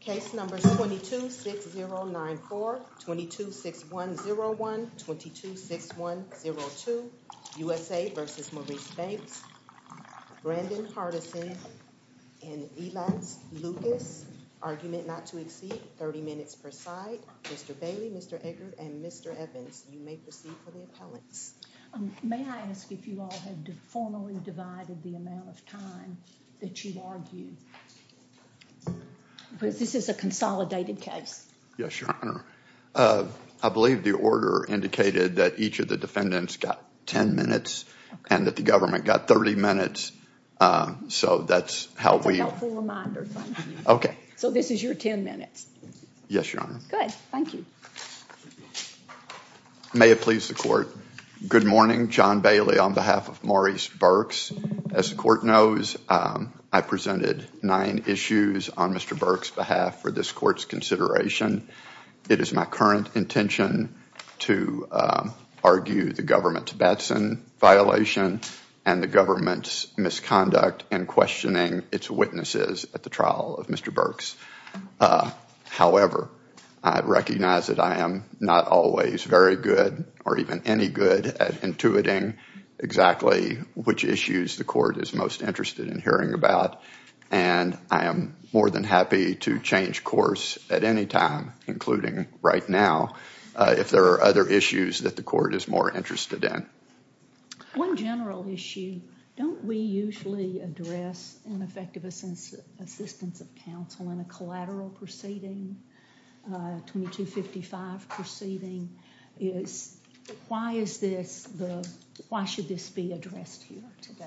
Case number 226094, 226101, 226102, USA v. Maurice Banks, Brandon Hardison, and Elance Lucas. Argument not to exceed 30 minutes per side. Mr. Bailey, Mr. Eggert, and Mr. Evans, you may proceed for the appellants. May I ask if you all have formally divided the amount of time that you argued? This is a consolidated case. Yes, Your Honor. I believe the order indicated that each of the defendants got 10 minutes and that the government got 30 minutes. So that's how we... It's a helpful reminder. Okay. So this is your 10 minutes. Yes, Your Honor. Good. Thank you. May it please the court. Good morning. John Bailey on behalf of Maurice Burks. As the court knows, I presented nine issues on Mr. Burks' behalf for this court's consideration. It is my current intention to argue the government-to-Batson violation and the government's misconduct in questioning its witnesses at the trial of Mr. Burks. However, I recognize that I am not always very good or even any good at intuiting exactly which issues the court is most interested in hearing about, and I am more than happy to change course at any time, including right now, if there are other issues that the court is more interested in. One general issue, don't we usually address ineffective assistance of counsel in a collateral proceeding, 2255 proceeding? Why should this be addressed here today?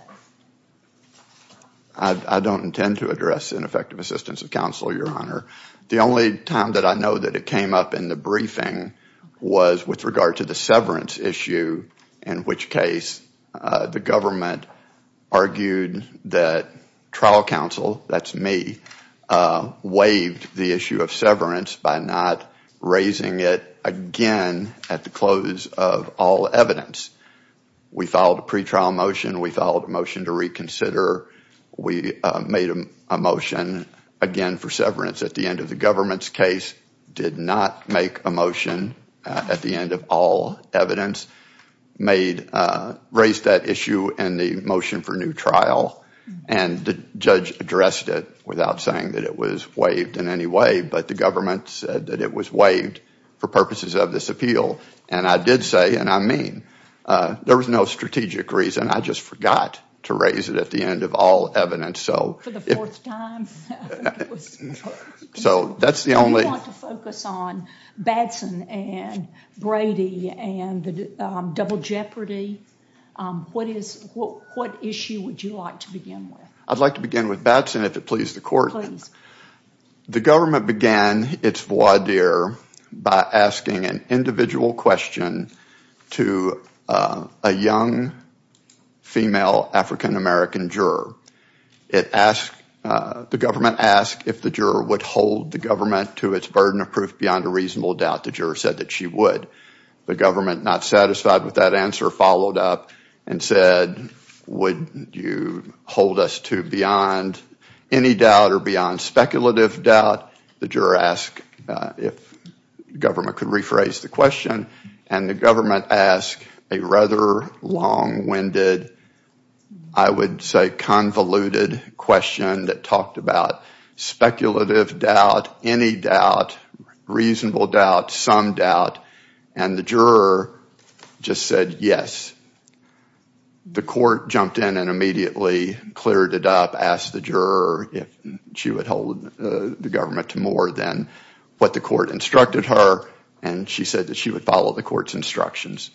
I don't intend to address ineffective assistance of counsel, Your Honor. The only time that I know that it came up in the briefing was with regard to the severance issue, in which case the government argued that trial counsel, that's me, waived the issue of severance by not raising it again at the close of all evidence. We filed a pretrial motion. We filed a motion to reconsider. We made a motion again for severance at the end of the government's case, did not make a motion at the end of all evidence, raised that issue in the motion for new trial, and the judge addressed it without saying that it was waived in any way, but the government said that it was waived for purposes of this appeal. And I did say, and I mean, there was no strategic reason. I just forgot to raise it at the end of all evidence. For the fourth time? So that's the only. Do you want to focus on Batson and Brady and the double jeopardy? What issue would you like to begin with? I'd like to begin with Batson, if it pleases the court. Please. The government began its voir dire by asking an individual question to a young female African-American juror. The government asked if the juror would hold the government to its burden of proof beyond a reasonable doubt. The juror said that she would. The government, not satisfied with that answer, followed up and said, would you hold us to beyond any doubt or beyond speculative doubt? The juror asked if the government could rephrase the question. And the government asked a rather long-winded, I would say convoluted question that talked about speculative doubt, any doubt, reasonable doubt, some doubt, and the juror just said yes. The court jumped in and immediately cleared it up, asked the juror if she would hold the government to more than what the court instructed her, and she said that she would follow the court's instructions.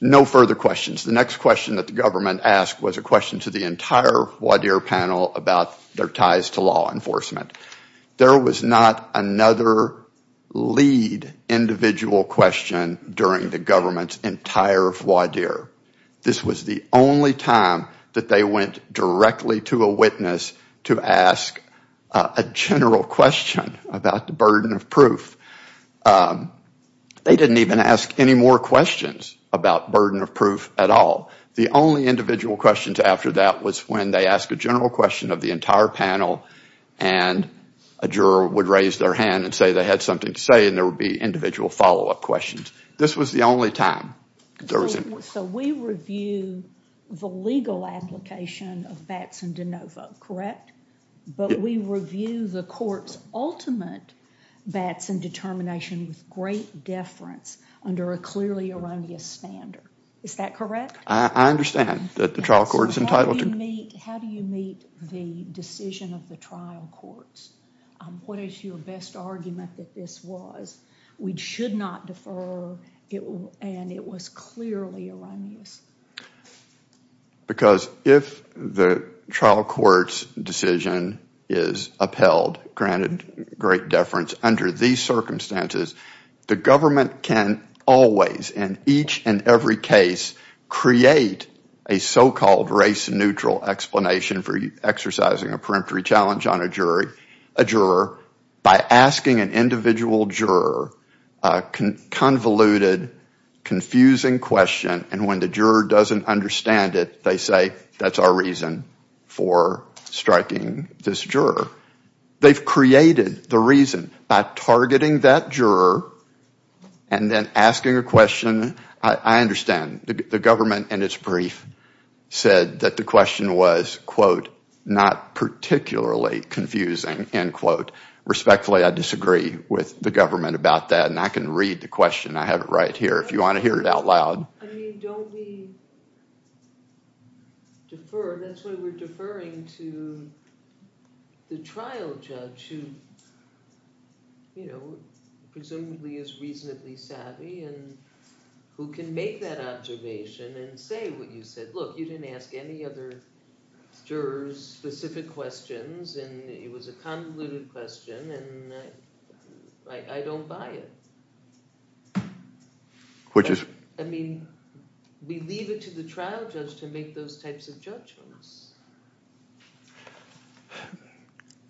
No further questions. The next question that the government asked was a question to the entire voir dire panel about their ties to law enforcement. There was not another lead individual question during the government's entire voir dire. This was the only time that they went directly to a witness to ask a general question about the burden of proof. They didn't even ask any more questions about burden of proof at all. The only individual questions after that was when they asked a general question of the entire panel, and a juror would raise their hand and say they had something to say, and there would be individual follow-up questions. This was the only time. So we review the legal application of Batson de novo, correct? But we review the court's ultimate Batson determination with great deference under a clearly erroneous standard. Is that correct? I understand that the trial court is entitled to- How do you meet the decision of the trial courts? What is your best argument that this was? We should not defer, and it was clearly erroneous. Because if the trial court's decision is upheld, granted great deference under these circumstances, the government can always, in each and every case, create a so-called race-neutral explanation for exercising a peremptory challenge on a juror by asking an individual juror a convoluted, confusing question, and when the juror doesn't understand it, they say that's our reason for striking this juror. They've created the reason by targeting that juror and then asking a question. I understand. The government, in its brief, said that the question was, quote, not particularly confusing, end quote. Respectfully, I disagree with the government about that, and I can read the question. I have it right here if you want to hear it out loud. I mean, don't we defer? That's why we're deferring to the trial judge who presumably is reasonably savvy and who can make that observation and say what you said. Look, you didn't ask any other jurors specific questions, and it was a convoluted question, and I don't buy it. I mean, we leave it to the trial judge to make those types of judgments.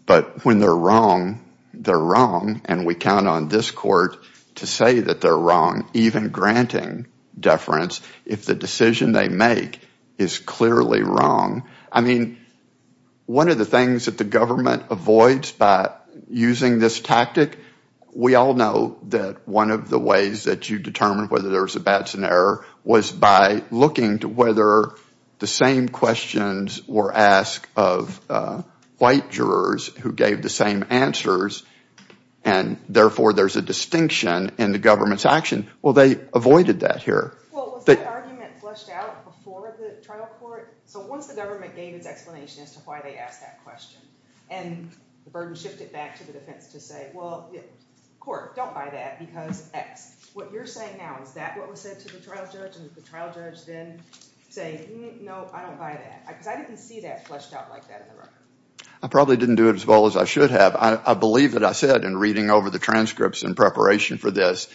But when they're wrong, they're wrong, and we count on this court to say that they're wrong, even granting deference if the decision they make is clearly wrong. I mean, one of the things that the government avoids by using this tactic, we all know that one of the ways that you determine whether there's a bad scenario was by looking to whether the same questions were asked of white jurors who gave the same answers, and therefore there's a distinction in the government's action. Well, they avoided that here. Well, was that argument fleshed out before the trial court? So once the government gave its explanation as to why they asked that question, and the burden shifted back to the defense to say, well, court, don't buy that because X. What you're saying now, is that what was said to the trial judge? And did the trial judge then say, no, I don't buy that? Because I didn't see that fleshed out like that in the record. I probably didn't do it as well as I should have. I believe that I said in reading over the transcripts in preparation for this,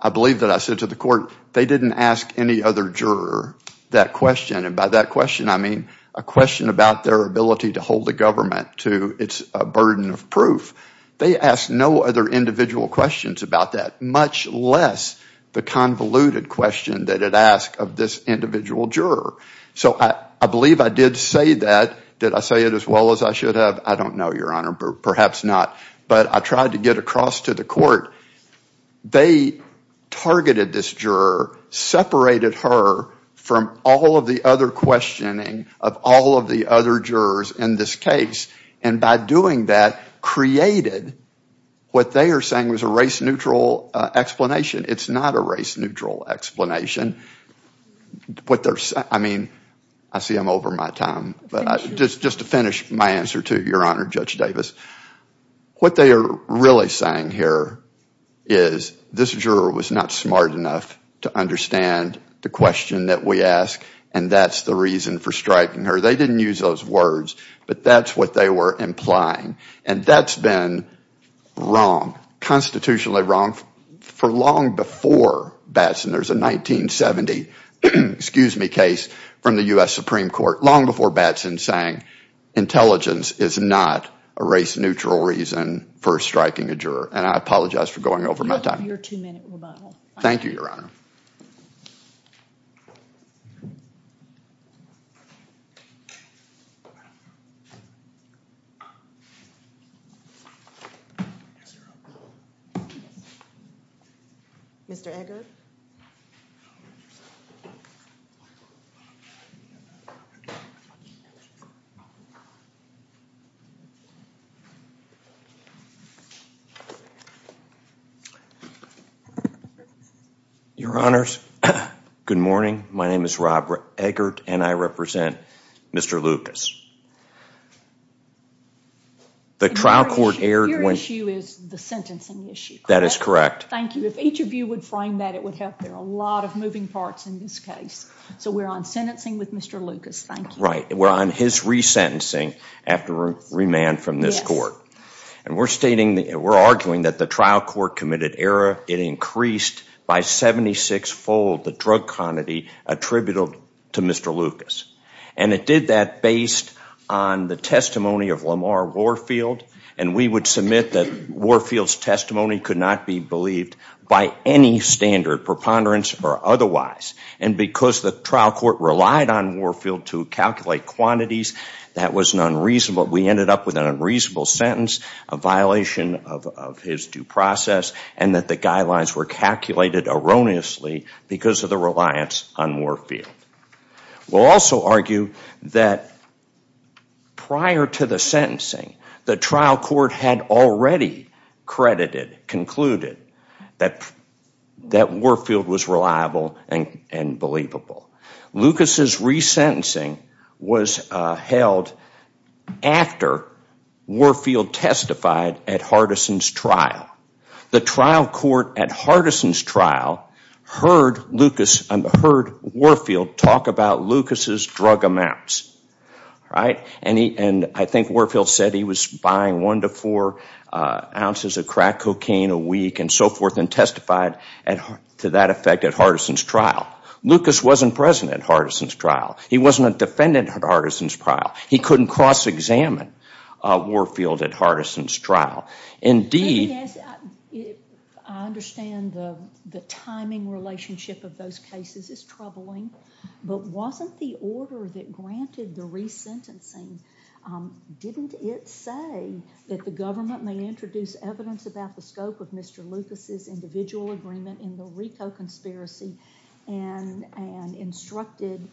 I believe that I said to the court, they didn't ask any other juror that question, and by that question I mean a question about their ability to hold the government to its burden of proof. They asked no other individual questions about that, much less the convoluted question that it asked of this individual juror. So I believe I did say that. Did I say it as well as I should have? I don't know, Your Honor, perhaps not. But I tried to get across to the court. They targeted this juror, separated her from all of the other questioning of all of the other jurors in this case, and by doing that created what they are saying was a race-neutral explanation. It's not a race-neutral explanation. I mean, I see I'm over my time, but just to finish my answer to Your Honor, Judge Davis, what they are really saying here is this juror was not smart enough to understand the question that we ask, and that's the reason for striking her. They didn't use those words, but that's what they were implying, and that's been wrong, constitutionally wrong for long before Batson. There's a 1970 case from the U.S. Supreme Court long before Batson saying intelligence is not a race-neutral reason for striking a juror, and I apologize for going over my time. You have your two-minute rebuttal. Thank you, Your Honor. Mr. Eggert. Your Honors, good morning. My name is Rob Eggert, and I represent Mr. Lucas. Your issue is the sentencing issue. That is correct. Thank you. If each of you would frame that, it would help. There are a lot of moving parts in this case, so we're on sentencing with Mr. Lucas. Thank you. Right. We're on his resentencing after remand from this court, and we're arguing that the trial court committed error. It increased by 76-fold the drug quantity attributable to Mr. Lucas, and it did that based on the testimony of Lamar Warfield, and we would submit that Warfield's testimony could not be believed by any standard, preponderance or otherwise, and because the trial court relied on Warfield to calculate quantities, that was an unreasonable, we ended up with an unreasonable sentence, a violation of his due process, and that the guidelines were calculated erroneously because of the reliance on Warfield. We'll also argue that prior to the sentencing, the trial court had already credited, concluded that Warfield was reliable and believable. Lucas' resentencing was held after Warfield testified at Hardison's trial. The trial court at Hardison's trial heard Warfield talk about Lucas' drug amounts, and I think Warfield said he was buying one to four ounces of crack cocaine a week and so forth and testified to that effect at Hardison's trial. Lucas wasn't present at Hardison's trial. He wasn't a defendant at Hardison's trial. He couldn't cross-examine Warfield at Hardison's trial. I understand the timing relationship of those cases is troubling, but wasn't the order that granted the resentencing, didn't it say that the government may introduce evidence about the scope of Mr. Lucas' individual agreement in the Rico conspiracy and instructed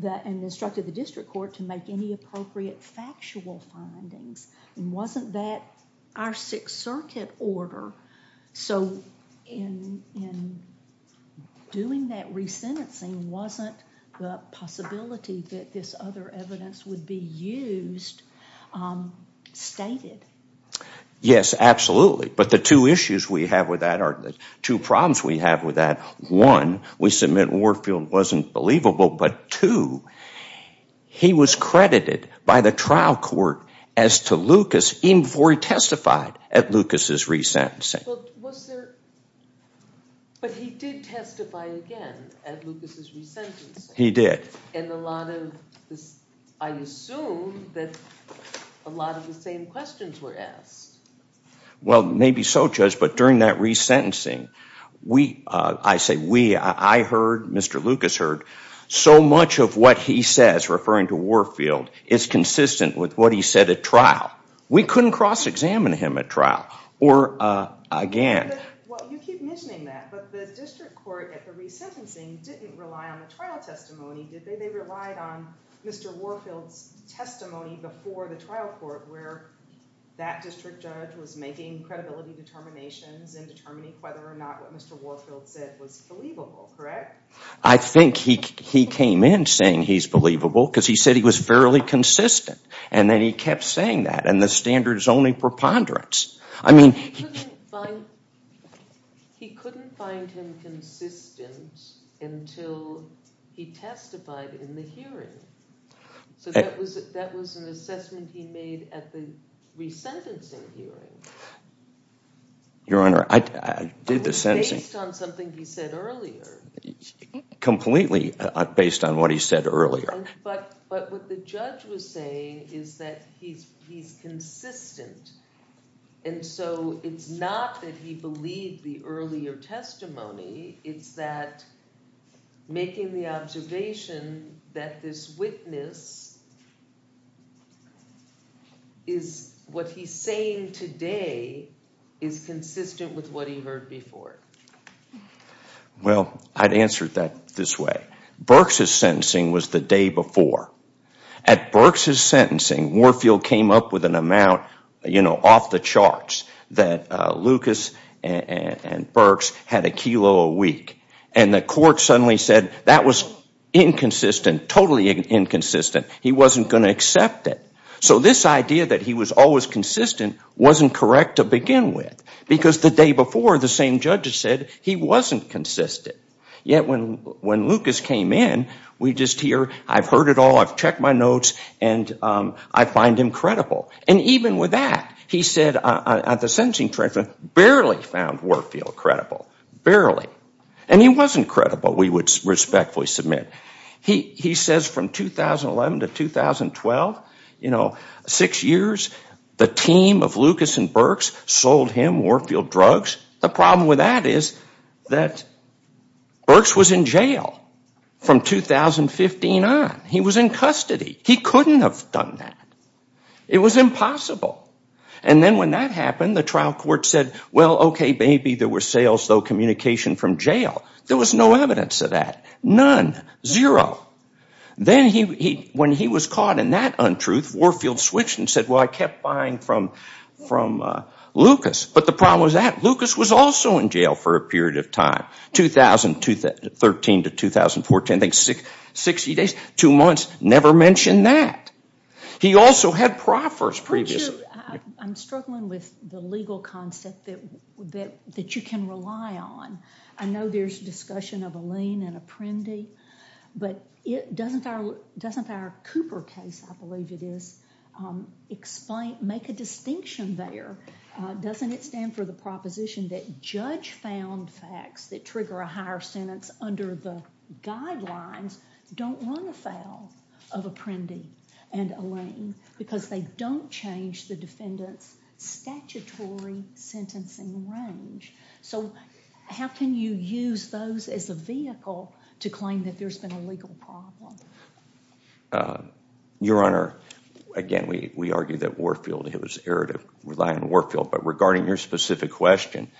the district court to make any appropriate factual findings? Wasn't that our Sixth Circuit order? So in doing that resentencing, wasn't the possibility that this other evidence would be used, stated? Yes, absolutely. But the two issues we have with that, or the two problems we have with that, one, we submit Warfield wasn't believable, but two, he was credited by the trial court as to Lucas, even before he testified at Lucas' resentencing. But he did testify again at Lucas' resentencing. He did. And I assume that a lot of the same questions were asked. Well, maybe so, Judge, but during that resentencing, I say we. I heard, Mr. Lucas heard, so much of what he says referring to Warfield is consistent with what he said at trial. We couldn't cross-examine him at trial or again. Well, you keep mentioning that, but the district court at the resentencing didn't rely on the trial testimony, did they? They relied on Mr. Warfield's testimony before the trial court where that district judge was making credibility determinations and determining whether or not what Mr. Warfield said was believable, correct? I think he came in saying he's believable because he said he was fairly consistent. And then he kept saying that. And the standard is only preponderance. He couldn't find him consistent until he testified in the hearing. So that was an assessment he made at the resentencing hearing. Your Honor, I did the sentencing. Based on something he said earlier. Completely based on what he said earlier. But what the judge was saying is that he's consistent. And so it's not that he believed the earlier testimony. It's that making the observation that this witness is what he's saying today is consistent with what he heard before. Well, I'd answer it this way. Burks' sentencing was the day before. At Burks' sentencing, Warfield came up with an amount off the charts that Lucas and Burks had a kilo a week. And the court suddenly said that was inconsistent, totally inconsistent. He wasn't going to accept it. So this idea that he was always consistent wasn't correct to begin with. Because the day before, the same judge said he wasn't consistent. Yet when Lucas came in, we just hear, I've heard it all, I've checked my notes, and I find him credible. And even with that, he said at the sentencing hearing, barely found Warfield credible. Barely. And he wasn't credible, we would respectfully submit. He says from 2011 to 2012, you know, six years, the team of Lucas and Burks sold him Warfield drugs. The problem with that is that Burks was in jail from 2015 on. He was in custody. He couldn't have done that. It was impossible. And then when that happened, the trial court said, well, okay, maybe there were sales, though, communication from jail. There was no evidence of that. None. Then when he was caught in that untruth, Warfield switched and said, well, I kept buying from Lucas. But the problem was that Lucas was also in jail for a period of time, 2013 to 2014, I think 60 days, two months, never mentioned that. He also had proffers previously. I'm struggling with the legal concept that you can rely on. I know there's discussion of a lien and a primdy, but doesn't our Cooper case, I believe it is, make a distinction there? Doesn't it stand for the proposition that judge-found facts that trigger a higher sentence under the guidelines don't run afoul of a primdy and a lien because they don't change the defendant's statutory sentencing range? So how can you use those as a vehicle to claim that there's been a legal problem? Your Honor, again, we argue that Warfield, it was an error to rely on Warfield, but regarding your specific question,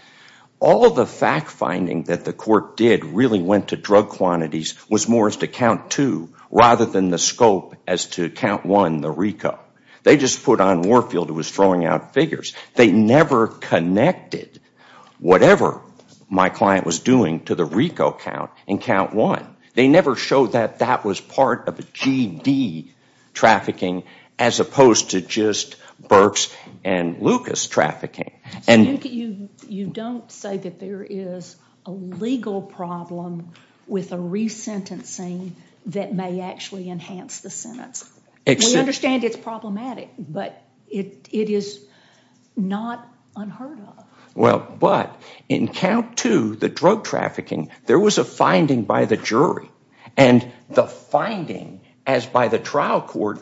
all the fact-finding that the court did really went to drug quantities, was more as to count two rather than the scope as to count one, the RICO. They just put on Warfield who was throwing out figures. They never connected whatever my client was doing to the RICO count in count one. They never showed that that was part of a GD trafficking as opposed to just Burks and Lucas trafficking. You don't say that there is a legal problem with a resentencing that may actually enhance the sentence. We understand it's problematic, but it is not unheard of. Well, but in count two, the drug trafficking, there was a finding by the jury, and the finding as by the trial court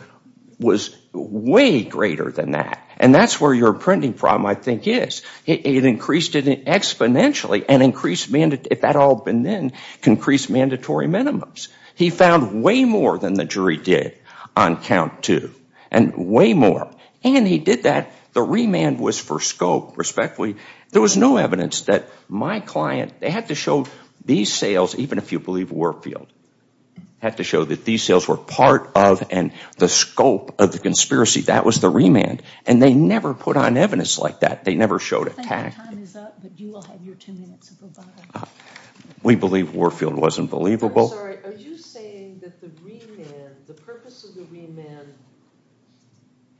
was way greater than that, and that's where your printing problem, I think, is. It increased it exponentially and increased, if that had all been then, increased mandatory minimums. He found way more than the jury did on count two, and way more, and he did that. The remand was for scope, respectfully. There was no evidence that my client, they had to show these sales, even if you believe Warfield, had to show that these sales were part of and the scope of the conspiracy. That was the remand, and they never put on evidence like that. They never showed it. I think your time is up, but you will have your two minutes. We believe Warfield wasn't believable. I'm sorry. Are you saying that the remand, the purpose of the remand,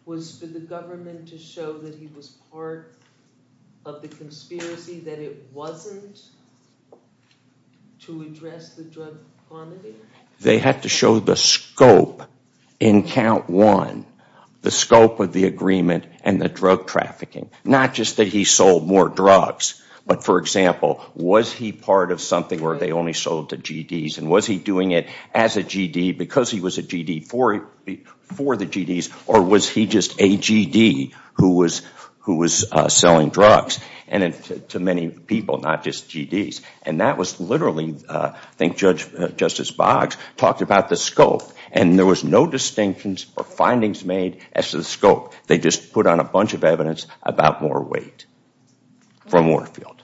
was for the government to show that he was part of the conspiracy, that it wasn't to address the drug quantity? They had to show the scope in count one, the scope of the agreement and the drug trafficking, not just that he sold more drugs, but, for example, was he part of something where they only sold to GDs, and was he doing it as a GD because he was a GD for the GDs, or was he just a GD who was selling drugs to many people, not just GDs? That was literally, I think Justice Boggs talked about the scope, and there was no distinctions or findings made as to the scope. They just put on a bunch of evidence about more weight from Warfield.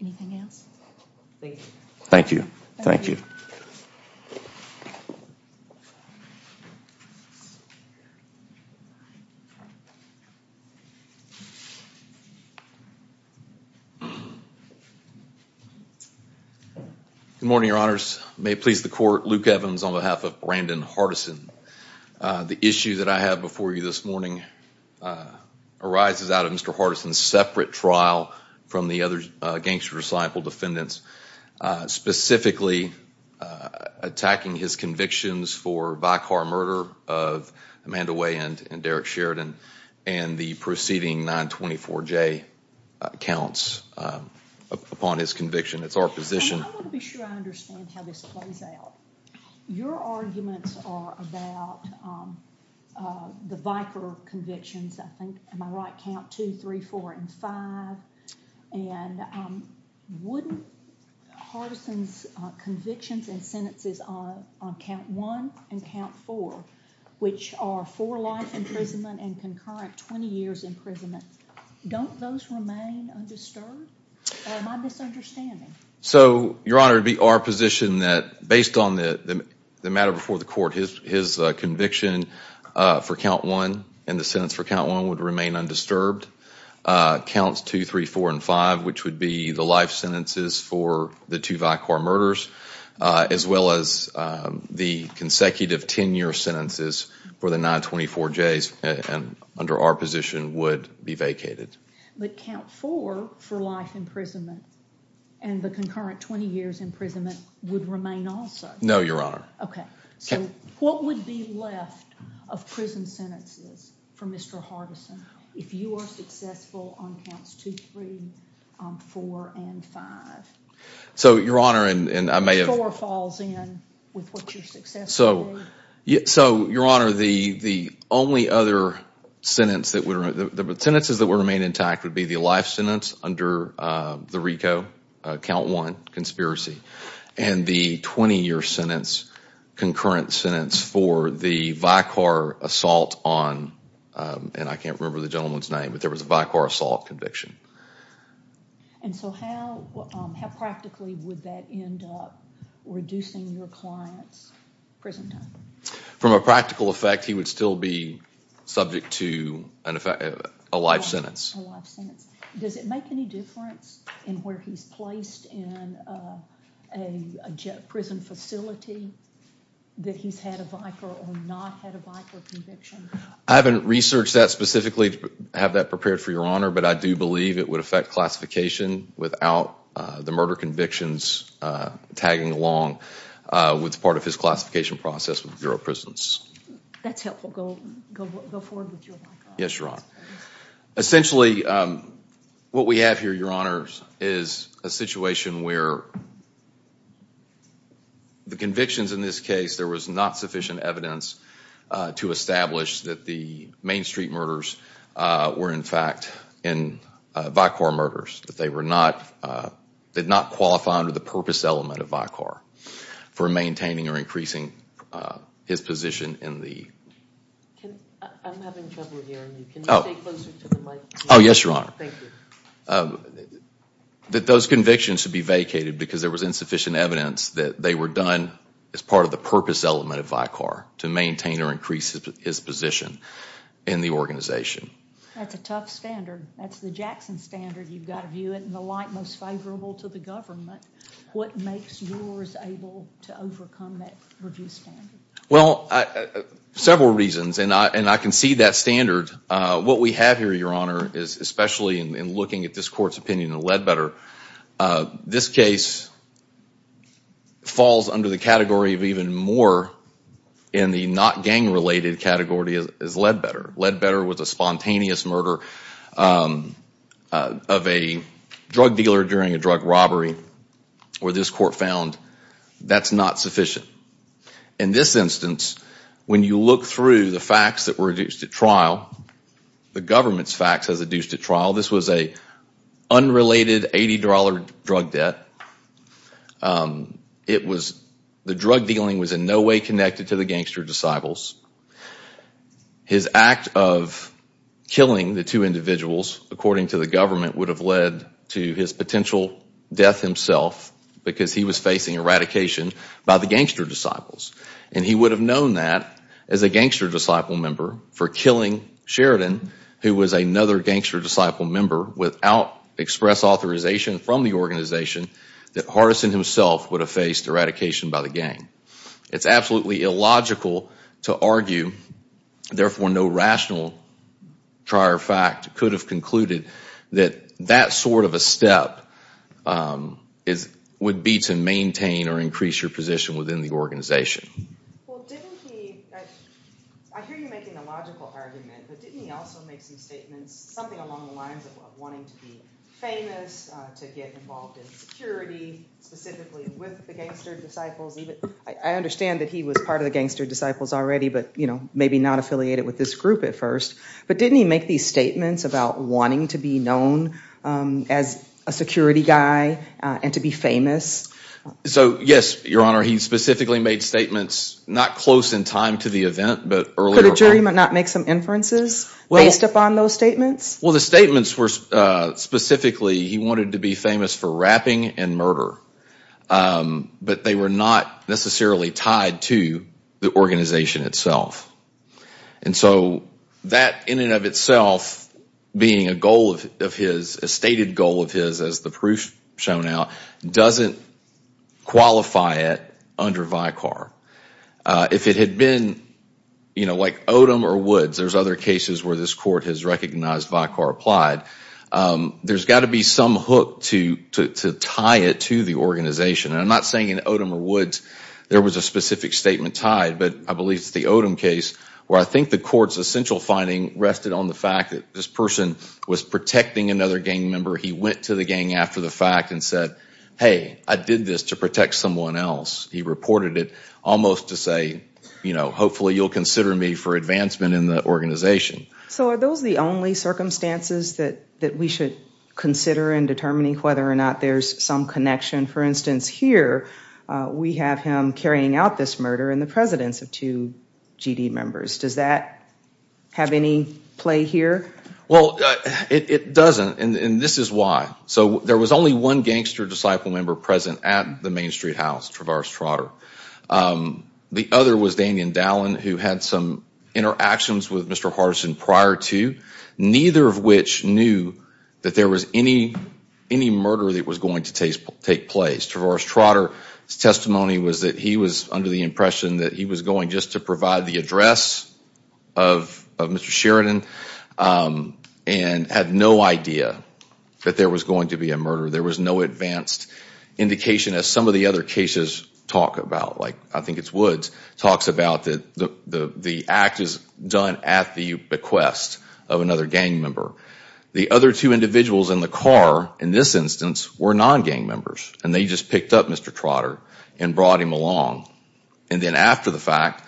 Anything else? Thank you. Thank you. Good morning, Your Honors. May it please the Court, Luke Evans on behalf of Brandon Hardison. The issue that I have before you this morning arises out of Mr. Hardison's separate trial from the other gangster disciple defendants, specifically attacking his convictions for by-car murder of Amanda Way and Derek Sheridan and the preceding 924J counts upon his conviction. It's our position— I want to be sure I understand how this plays out. Your arguments are about the Viker convictions, I think. Am I right? Count 2, 3, 4, and 5? And wouldn't Hardison's convictions and sentences on count 1 and count 4, which are for life imprisonment and concurrent 20 years imprisonment, don't those remain undisturbed? Or am I misunderstanding? So, Your Honor, it would be our position that, based on the matter before the Court, his conviction for count 1 and the sentence for count 1 would remain undisturbed. Counts 2, 3, 4, and 5, which would be the life sentences for the two Viker murders, as well as the consecutive 10-year sentences for the 924Js, under our position, would be vacated. But count 4, for life imprisonment, and the concurrent 20 years imprisonment, would remain also? No, Your Honor. Okay. So, what would be left of prison sentences for Mr. Hardison if you were successful on counts 2, 3, 4, and 5? So, Your Honor, and I may have— Four falls in with what you successfully did. So, Your Honor, the only other sentences that would remain intact would be the life sentence under the RICO, count 1, conspiracy, and the 20-year sentence, concurrent sentence, for the Viker assault on— and I can't remember the gentleman's name, but there was a Viker assault conviction. And so how practically would that end up reducing your client's prison time? From a practical effect, he would still be subject to a life sentence. A life sentence. Does it make any difference in where he's placed in a prison facility that he's had a Viker or not had a Viker conviction? I haven't researched that specifically to have that prepared for Your Honor, but I do believe it would affect classification without the murder convictions tagging along with part of his classification process with the Bureau of Prisons. That's helpful. Go forward with your— Yes, Your Honor. Essentially, what we have here, Your Honor, is a situation where the convictions in this case, there was not sufficient evidence to establish that the Main Street murders were in fact Viker murders, that they did not qualify under the purpose element of Viker for maintaining or increasing his position in the— I'm having trouble hearing you. Can you stay closer to the mic? Oh, yes, Your Honor. Thank you. That those convictions should be vacated because there was insufficient evidence that they were done as part of the purpose element of Viker to maintain or increase his position in the organization. That's a tough standard. That's the Jackson standard. You've got to view it in the light most favorable to the government. What makes yours able to overcome that review standard? Well, several reasons, and I can see that standard. What we have here, Your Honor, is especially in looking at this court's opinion of Ledbetter, this case falls under the category of even more in the not gang-related category as Ledbetter. Ledbetter was a spontaneous murder of a drug dealer during a drug robbery where this court found that's not sufficient. In this instance, when you look through the facts that were adduced at trial, the government's facts as adduced at trial, this was an unrelated $80 drug debt. The drug dealing was in no way connected to the gangster disciples. His act of killing the two individuals, according to the government, would have led to his potential death himself because he was facing eradication by the gangster disciples. And he would have known that as a gangster disciple member for killing Sheridan, who was another gangster disciple member, without express authorization from the organization, that Hardison himself would have faced eradication by the gang. It's absolutely illogical to argue, therefore no rational prior fact could have concluded that that sort of a step would be to maintain or increase your position within the organization. I hear you making a logical argument, but didn't he also make some statements, something along the lines of wanting to be famous, to get involved in security, specifically with the gangster disciples? I understand that he was part of the gangster disciples already, but maybe not affiliated with this group at first. But didn't he make these statements about wanting to be known as a security guy and to be famous? So, yes, Your Honor, he specifically made statements not close in time to the event, but earlier. Could a jury not make some inferences based upon those statements? Well, the statements were specifically he wanted to be famous for rapping and murder, but they were not necessarily tied to the organization itself. And so that in and of itself being a goal of his, a stated goal of his, as the proof shown now, doesn't qualify it under Vicar. If it had been, you know, like Odom or Woods, there's other cases where this court has recognized Vicar applied, there's got to be some hook to tie it to the organization. And I'm not saying in Odom or Woods there was a specific statement tied, but I believe it's the Odom case where I think the court's essential finding rested on the fact that this person was protecting another gang member. He went to the gang after the fact and said, hey, I did this to protect someone else. He reported it almost to say, you know, hopefully you'll consider me for advancement in the organization. So are those the only circumstances that we should consider in determining whether or not there's some connection? For instance, here we have him carrying out this murder and the presence of two GD members. Does that have any play here? Well, it doesn't, and this is why. So there was only one gangster disciple member present at the Main Street house, Traverse Trotter. The other was Daniel Dallin, who had some interactions with Mr. Hardison prior to, neither of which knew that there was any murder that was going to take place. Traverse Trotter's testimony was that he was under the impression that he was going just to provide the address of Mr. Sheridan and had no idea that there was going to be a murder. There was no advanced indication, as some of the other cases talk about, like I think it's Woods talks about, that the act is done at the bequest of another gang member. The other two individuals in the car in this instance were non-gang members, and they just picked up Mr. Trotter and brought him along and then after the fact,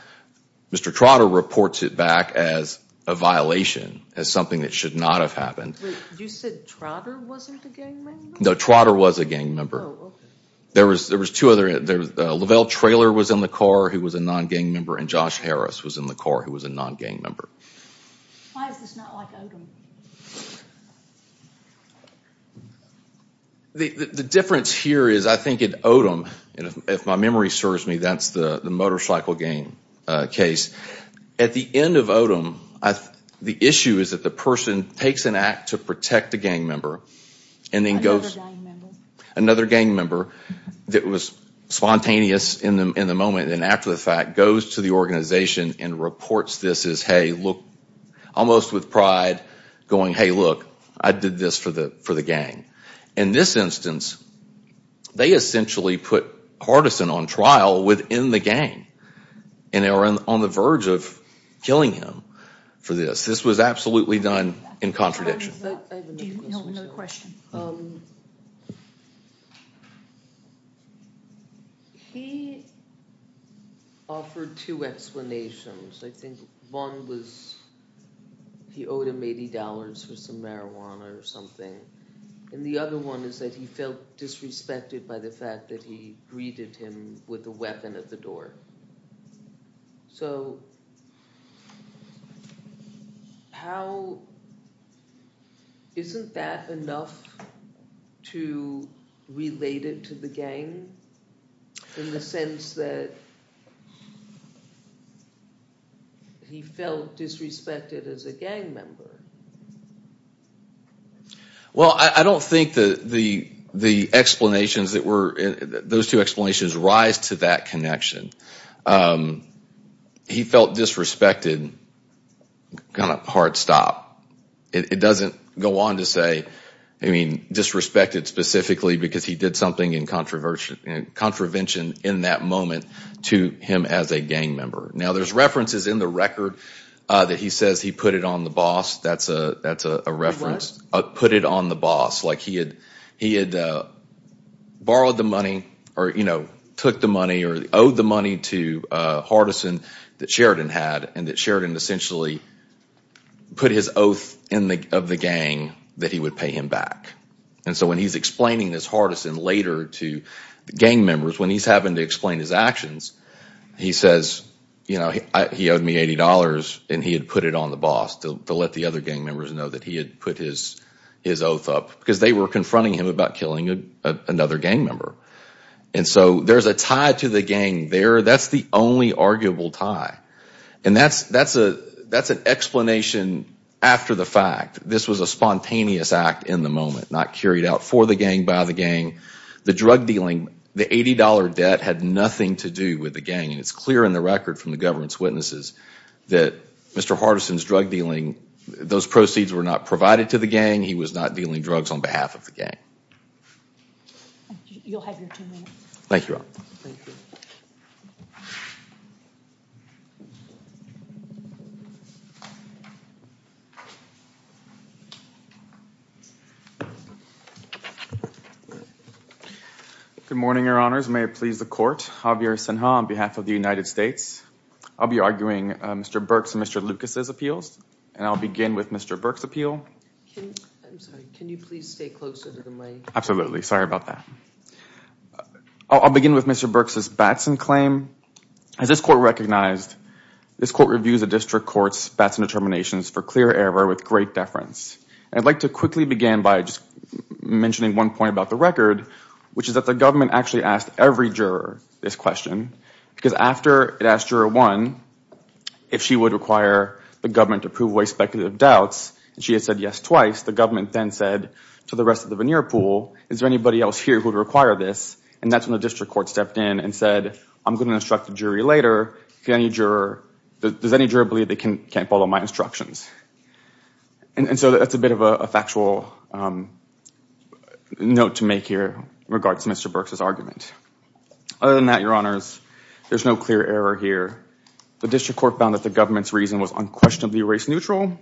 Mr. Trotter reports it back as a violation, as something that should not have happened. Wait, you said Trotter wasn't a gang member? No, Trotter was a gang member. Oh, okay. There was two other, Lavelle Traylor was in the car, who was a non-gang member, and Josh Harris was in the car, who was a non-gang member. Why is this not like Odom? The difference here is I think in Odom, if my memory serves me, that's the motorcycle gang case. At the end of Odom, the issue is that the person takes an act to protect a gang member. Another gang member? Another gang member that was spontaneous in the moment and after the fact goes to the organization and reports this as, almost with pride going, hey, look, I did this for the gang. In this instance, they essentially put Hardison on trial within the gang and they were on the verge of killing him for this. This was absolutely done in contradiction. Do you have another question? He offered two explanations. I think one was he owed him $80 for some marijuana or something, and the other one is that he felt disrespected by the fact that he greeted him with a weapon at the door. So isn't that enough to relate it to the gang, in the sense that he felt disrespected as a gang member? Well, I don't think the explanations that were, those two explanations rise to that connection. He felt disrespected, kind of hard stop. It doesn't go on to say, I mean, disrespected specifically because he did something in contravention in that moment to him as a gang member. Now, there's references in the record that he says he put it on the boss. That's a reference. Put it on the boss, like he had borrowed the money or took the money or owed the money to Hardison that Sheridan had and that Sheridan essentially put his oath of the gang that he would pay him back. And so when he's explaining this Hardison later to the gang members, when he's having to explain his actions, he says, he owed me $80 and he had put it on the boss to let the other gang members know that he had put his oath up because they were confronting him about killing another gang member. And so there's a tie to the gang there. That's the only arguable tie. And that's an explanation after the fact. This was a spontaneous act in the moment, not carried out for the gang, by the gang. The drug dealing, the $80 debt had nothing to do with the gang. And it's clear in the record from the government's witnesses that Mr. Hardison's drug dealing, those proceeds were not provided to the gang. He was not dealing drugs on behalf of the gang. You'll have your two minutes. Thank you. Thank you. Good morning, Your Honors. May it please the court. Javier Sinha on behalf of the United States. I'll be arguing Mr. Burks and Mr. Lucas' appeals. And I'll begin with Mr. Burks' appeal. I'm sorry. Can you please stay closer to the mic? Absolutely. Sorry about that. I'll begin with Mr. Burks' Batson claim. As this court recognized, this court reviews the district court's Batson determinations for clear error with great deference. And I'd like to quickly begin by just mentioning one point about the record, which is that the government actually asked every juror this question. Because after it asked Juror 1 if she would require the government to prove away speculative doubts, and she had said yes twice, the government then said to the rest of the veneer pool, is there anybody else here who would require this? And that's when the district court stepped in and said, I'm going to instruct the jury later. Does any juror believe they can't follow my instructions? And so that's a bit of a factual note to make here in regards to Mr. Burks' argument. Other than that, Your Honors, there's no clear error here. The district court found that the government's reason was unquestionably race neutral.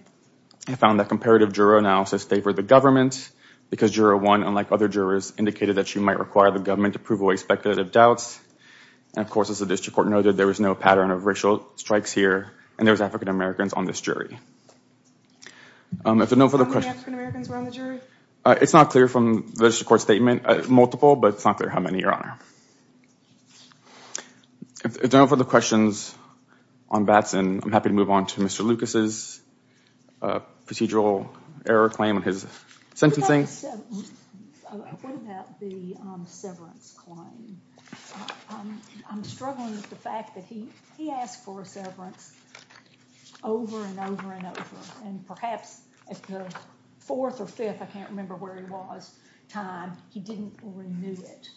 It found that comparative juror analysis favored the government, because Juror 1, unlike other jurors, indicated that she might require the government to prove away speculative doubts. And of course, as the district court noted, there was no pattern of racial strikes here, and there was African-Americans on this jury. How many African-Americans were on the jury? It's not clear from the district court statement. Multiple, but it's not clear how many, Your Honor. If there are no further questions on Batson, I'm happy to move on to Mr. Lucas' procedural error claim on his sentencing. What about the severance claim? I'm struggling with the fact that he asked for a severance over and over and over, and perhaps at the fourth or fifth, I can't remember where he was, time, he didn't renew it.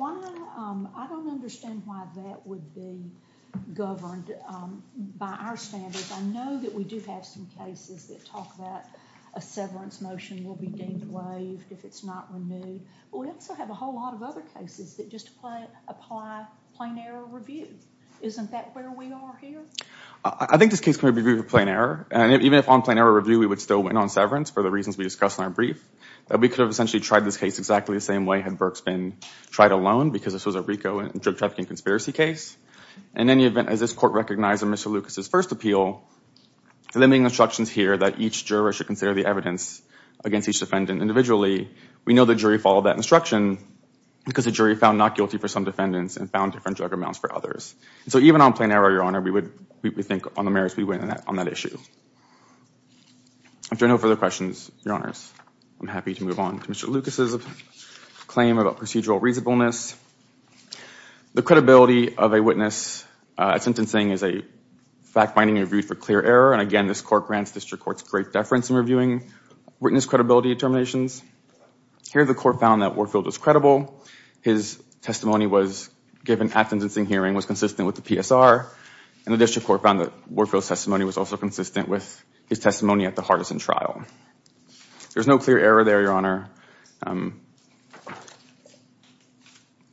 I don't understand why that would be governed by our standards. I know that we do have some cases that talk about a severance motion will be deemed waived if it's not removed. We also have a whole lot of other cases that just apply plain error review. Isn't that where we are here? I think this case can be reviewed with plain error, and even if on plain error review, we would still win on severance for the reasons we discussed in our brief. We could have essentially tried this case exactly the same way had Burks been tried alone, because this was a RICO drug trafficking conspiracy case. In any event, as this court recognized in Mr. Lucas' first appeal, the limiting instructions here that each juror should consider the evidence against each defendant individually, we know the jury followed that instruction because the jury found not guilty for some defendants and found different drug amounts for others. So even on plain error, Your Honor, we would think on the merits we win on that issue. If there are no further questions, Your Honors, I'm happy to move on to Mr. Lucas' claim about procedural reasonableness. The credibility of a witness at sentencing is a fact-finding review for clear error, and again, this court grants district courts great deference in reviewing witness credibility determinations. Here, the court found that Warfield was credible. His testimony given at sentencing hearing was consistent with the PSR, and the district court found that Warfield's testimony was also consistent with his testimony at the Hardison trial. There's no clear error there, Your Honor. And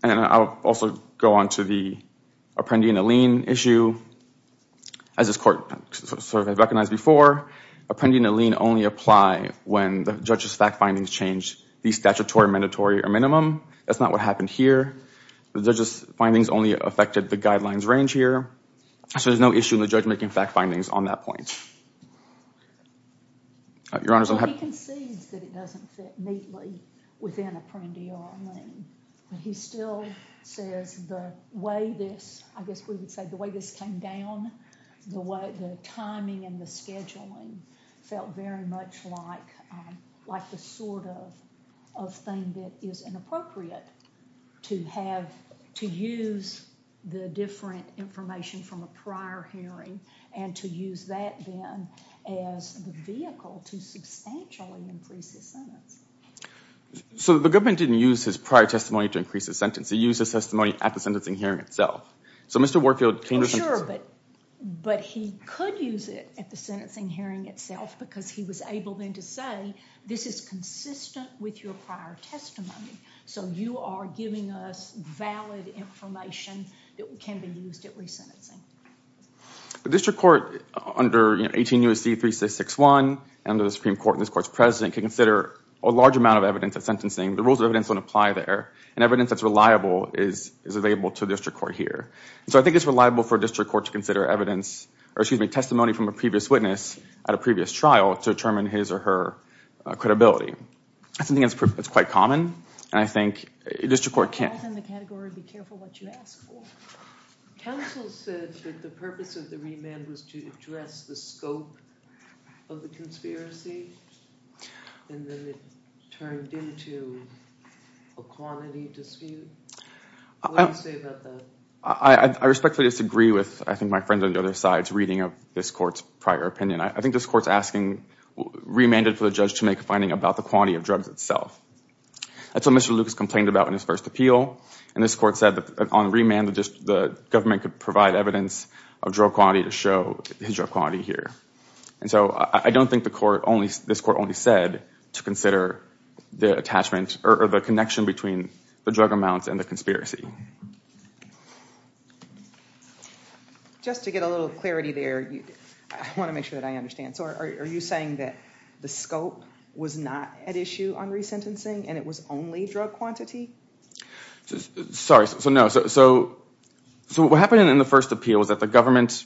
I'll also go on to the Apprendi and Allene issue. As this court sort of recognized before, Apprendi and Allene only apply when the judge's fact findings change the statutory, mandatory, or minimum. That's not what happened here. The judge's findings only affected the guidelines range here. So there's no issue in the judge making fact findings on that point. Your Honors, I have— So he concedes that it doesn't fit neatly within Apprendi or Allene, but he still says the way this—I guess we would say the way this came down, the timing and the scheduling felt very much like the sort of thing that is inappropriate to have—to use the different information from a prior hearing and to use that then as the vehicle to substantially increase his sentence. So the government didn't use his prior testimony to increase his sentence. He used his testimony at the sentencing hearing itself. So Mr. Warfield came to— Sure, but he could use it at the sentencing hearing itself because he was able then to say this is consistent with your prior testimony. So you are giving us valid information that can be used at resentencing. The district court under 18 U.S.C. 3661, under the Supreme Court and this Court's president, can consider a large amount of evidence at sentencing. The rules of evidence don't apply there, and evidence that's reliable is available to the district court here. So I think it's reliable for a district court to consider evidence— or excuse me, testimony from a previous witness at a previous trial to determine his or her credibility. I think it's quite common, and I think district court can't— Be careful what you ask for. Counsel said that the purpose of the remand was to address the scope of the conspiracy, and then it turned into a quantity dispute. What do you say about that? I respectfully disagree with, I think, my friend on the other side's reading of this court's prior opinion. I think this court's remanded for the judge to make a finding about the quantity of drugs itself. That's what Mr. Lucas complained about in his first appeal, and this court said that on remand, the government could provide evidence of drug quantity to show his drug quantity here. And so I don't think this court only said to consider the attachment or the connection between the drug amounts and the conspiracy. Just to get a little clarity there, I want to make sure that I understand. So are you saying that the scope was not at issue on resentencing and it was only drug quantity? Sorry, so no. So what happened in the first appeal was that the government—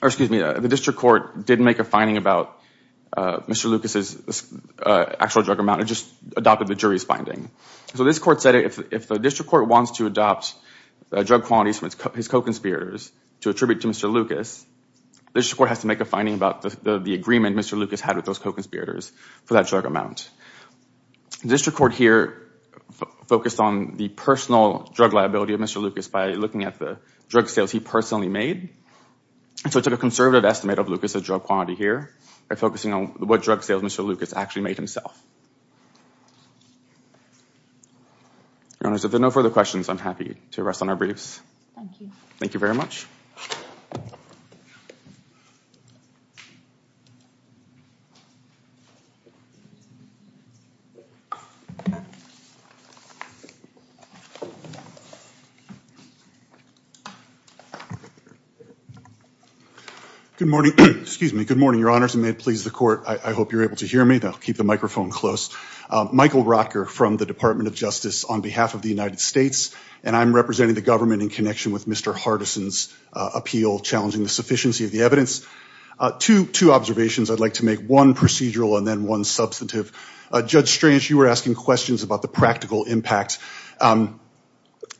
or excuse me, the district court did make a finding about Mr. Lucas's actual drug amount. It just adopted the jury's finding. So this court said if the district court wants to adopt drug quantities from his co-conspirators to attribute to Mr. Lucas, the district court has to make a finding about the agreement Mr. Lucas had with those co-conspirators for that drug amount. The district court here focused on the personal drug liability of Mr. Lucas by looking at the drug sales he personally made. So it took a conservative estimate of Lucas's drug quantity here by focusing on what drug sales Mr. Lucas actually made himself. Your Honors, if there are no further questions, I'm happy to rest on our briefs. Thank you. Thank you very much. Good morning. Excuse me. Good morning, Your Honors. And may it please the court, I hope you're able to hear me. I'll keep the microphone close. Michael Rotker from the Department of Justice on behalf of the United States, and I'm representing the government in connection with Mr. Hardison's appeal, challenging the sufficiency of the evidence. Two observations. I'd like to make one procedural and then one substantive. Judge Strange, you were asking questions about the practical impact.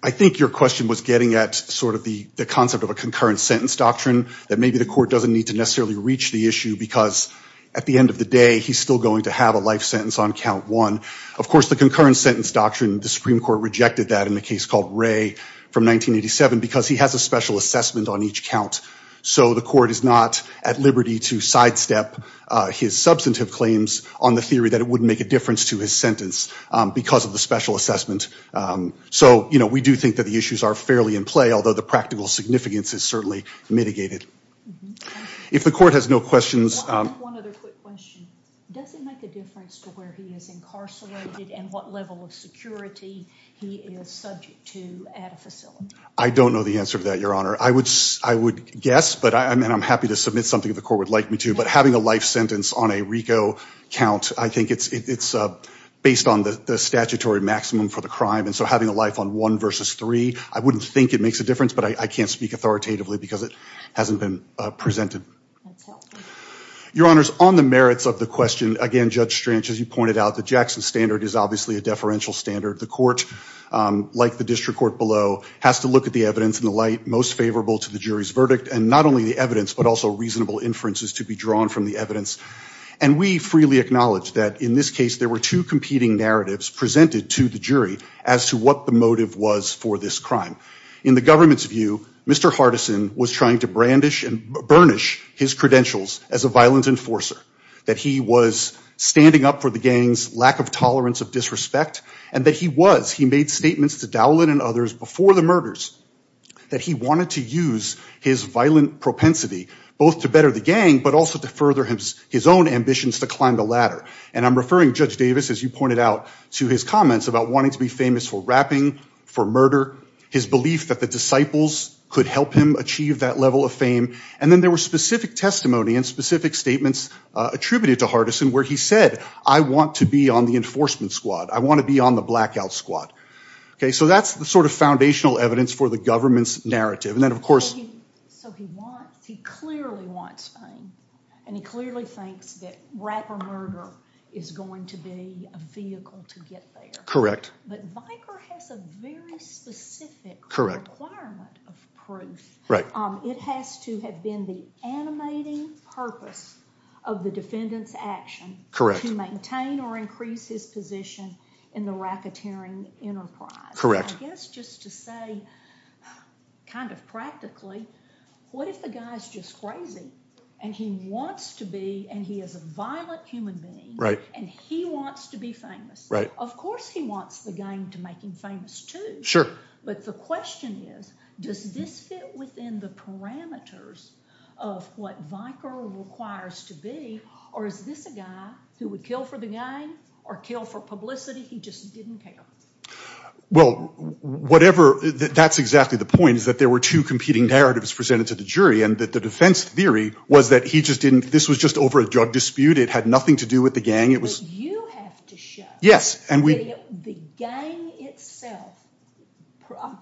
I think your question was getting at sort of the concept of a concurrent sentence doctrine that maybe the court doesn't need to necessarily reach the issue because at the end of the day, he's still going to have a life sentence on count one. Of course, the concurrent sentence doctrine, the Supreme Court rejected that in the case called Ray from 1987 because he has a special assessment on each count. So the court is not at liberty to sidestep his substantive claims on the theory that it wouldn't make a difference to his sentence because of the special assessment. So, you know, we do think that the issues are fairly in play, although the practical significance is certainly mitigated. If the court has no questions. One other quick question. Does it make a difference to where he is incarcerated and what level of security he is subject to at a facility? I don't know the answer to that, Your Honor. I would guess, and I'm happy to submit something if the court would like me to, but having a life sentence on a RICO count, I think it's based on the statutory maximum for the crime. And so having a life on one versus three, I wouldn't think it makes a difference, but I can't speak authoritatively because it hasn't been presented. That's helpful. Your Honors, on the merits of the question, again, Judge Strange, as you pointed out, the Jackson standard is obviously a deferential standard. The court, like the district court below, has to look at the evidence in the light most favorable to the jury's verdict and not only the evidence but also reasonable inferences to be drawn from the evidence. And we freely acknowledge that in this case there were two competing narratives presented to the jury as to what the motive was for this crime. In the government's view, Mr. Hardison was trying to brandish and burnish his credentials as a violent enforcer, that he was standing up for the gang's lack of tolerance of disrespect, and that he was. He made statements to Dowland and others before the murders that he wanted to use his violent propensity both to better the gang but also to further his own ambitions to climb the ladder. And I'm referring, Judge Davis, as you pointed out, to his comments about wanting to be famous for rapping, for murder. His belief that the disciples could help him achieve that level of fame. And then there were specific testimony and specific statements attributed to Hardison where he said, I want to be on the enforcement squad. I want to be on the blackout squad. Okay, so that's the sort of foundational evidence for the government's narrative. And then, of course... So he wants, he clearly wants fame. And he clearly thinks that rap or murder is going to be a vehicle to get there. Correct. But Viker has a very specific requirement of proof. It has to have been the animating purpose of the defendant's action to maintain or increase his position in the racketeering enterprise. I guess just to say, kind of practically, what if the guy's just crazy and he wants to be, and he is a violent human being, and he wants to be famous? Of course he wants the gang to make him famous too. But the question is, does this fit within the parameters of what Viker requires to be, or is this a guy who would kill for the gang or kill for publicity? He just didn't care. Well, whatever, that's exactly the point, is that there were two competing narratives presented to the jury and that the defense theory was that he just didn't, this was just over a drug dispute. It had nothing to do with the gang. But you have to show that the gang itself,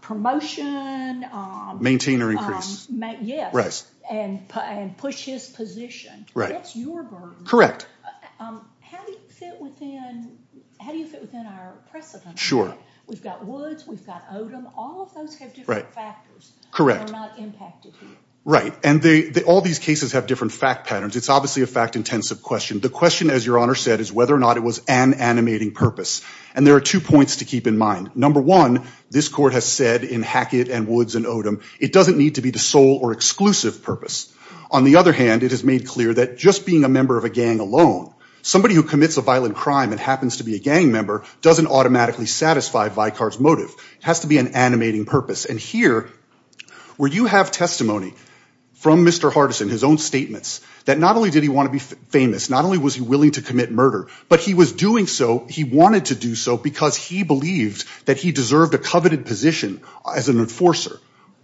promotion... Maintain or increase. Yes, and push his position. That's your burden. Correct. How do you fit within our precedent? Sure. We've got Woods, we've got Odom, all of those have different factors that are not impacted here. Right, and all these cases have different fact patterns. It's obviously a fact-intensive question. The question, as Your Honor said, is whether or not it was an animating purpose. And there are two points to keep in mind. Number one, this court has said in Hackett and Woods and Odom, it doesn't need to be the sole or exclusive purpose. On the other hand, it has made clear that just being a member of a gang alone, somebody who commits a violent crime and happens to be a gang member, doesn't automatically satisfy Viker's motive. It has to be an animating purpose. And here, where you have testimony from Mr. Hardison, his own statements, that not only did he want to be famous, not only was he willing to commit murder, but he was doing so, he wanted to do so, because he believed that he deserved a coveted position as an enforcer.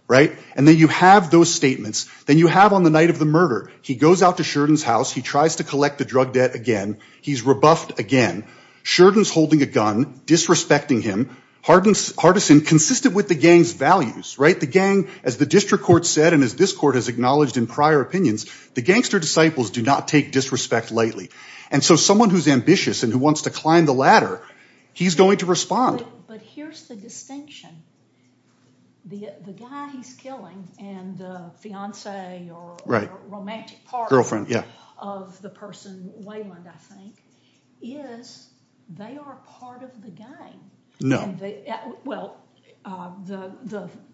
Right? And then you have those statements. Then you have on the night of the murder, he goes out to Sheridan's house, he tries to collect the drug debt again, he's rebuffed again. Sheridan's holding a gun, disrespecting him. Hardison, consistent with the gang's values, right? The gang, as the district court said and as this court has acknowledged in prior opinions, the gangster disciples do not take disrespect lightly. And so someone who's ambitious and who wants to climb the ladder, he's going to respond. But here's the distinction. The guy he's killing and the fiancé or romantic partner of the person, Wayland, I think, is they are part of the gang. Well,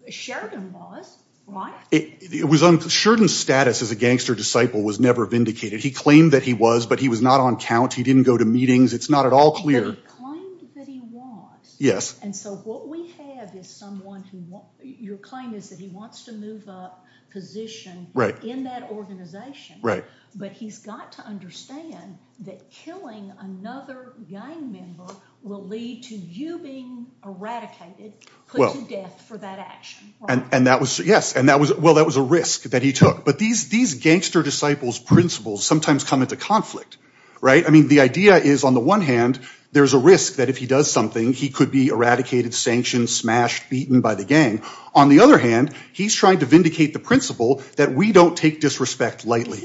Sheridan was, right? Sheridan's status as a gangster disciple was never vindicated. He claimed that he was, but he was not on count. He didn't go to meetings. It's not at all clear. But he claimed that he was. Yes. And so what we have is someone who, your claim is that he wants to move up position in that organization. Right. But he's got to understand that killing another gang member will lead to you being eradicated, put to death for that action. And that was, yes. And that was, well, that was a risk that he took. But these gangster disciples' principles sometimes come into conflict, right? I mean, the idea is, on the one hand, there's a risk that if he does something, he could be eradicated, sanctioned, smashed, beaten by the gang. On the other hand, he's trying to vindicate the principle that we don't take disrespect lightly.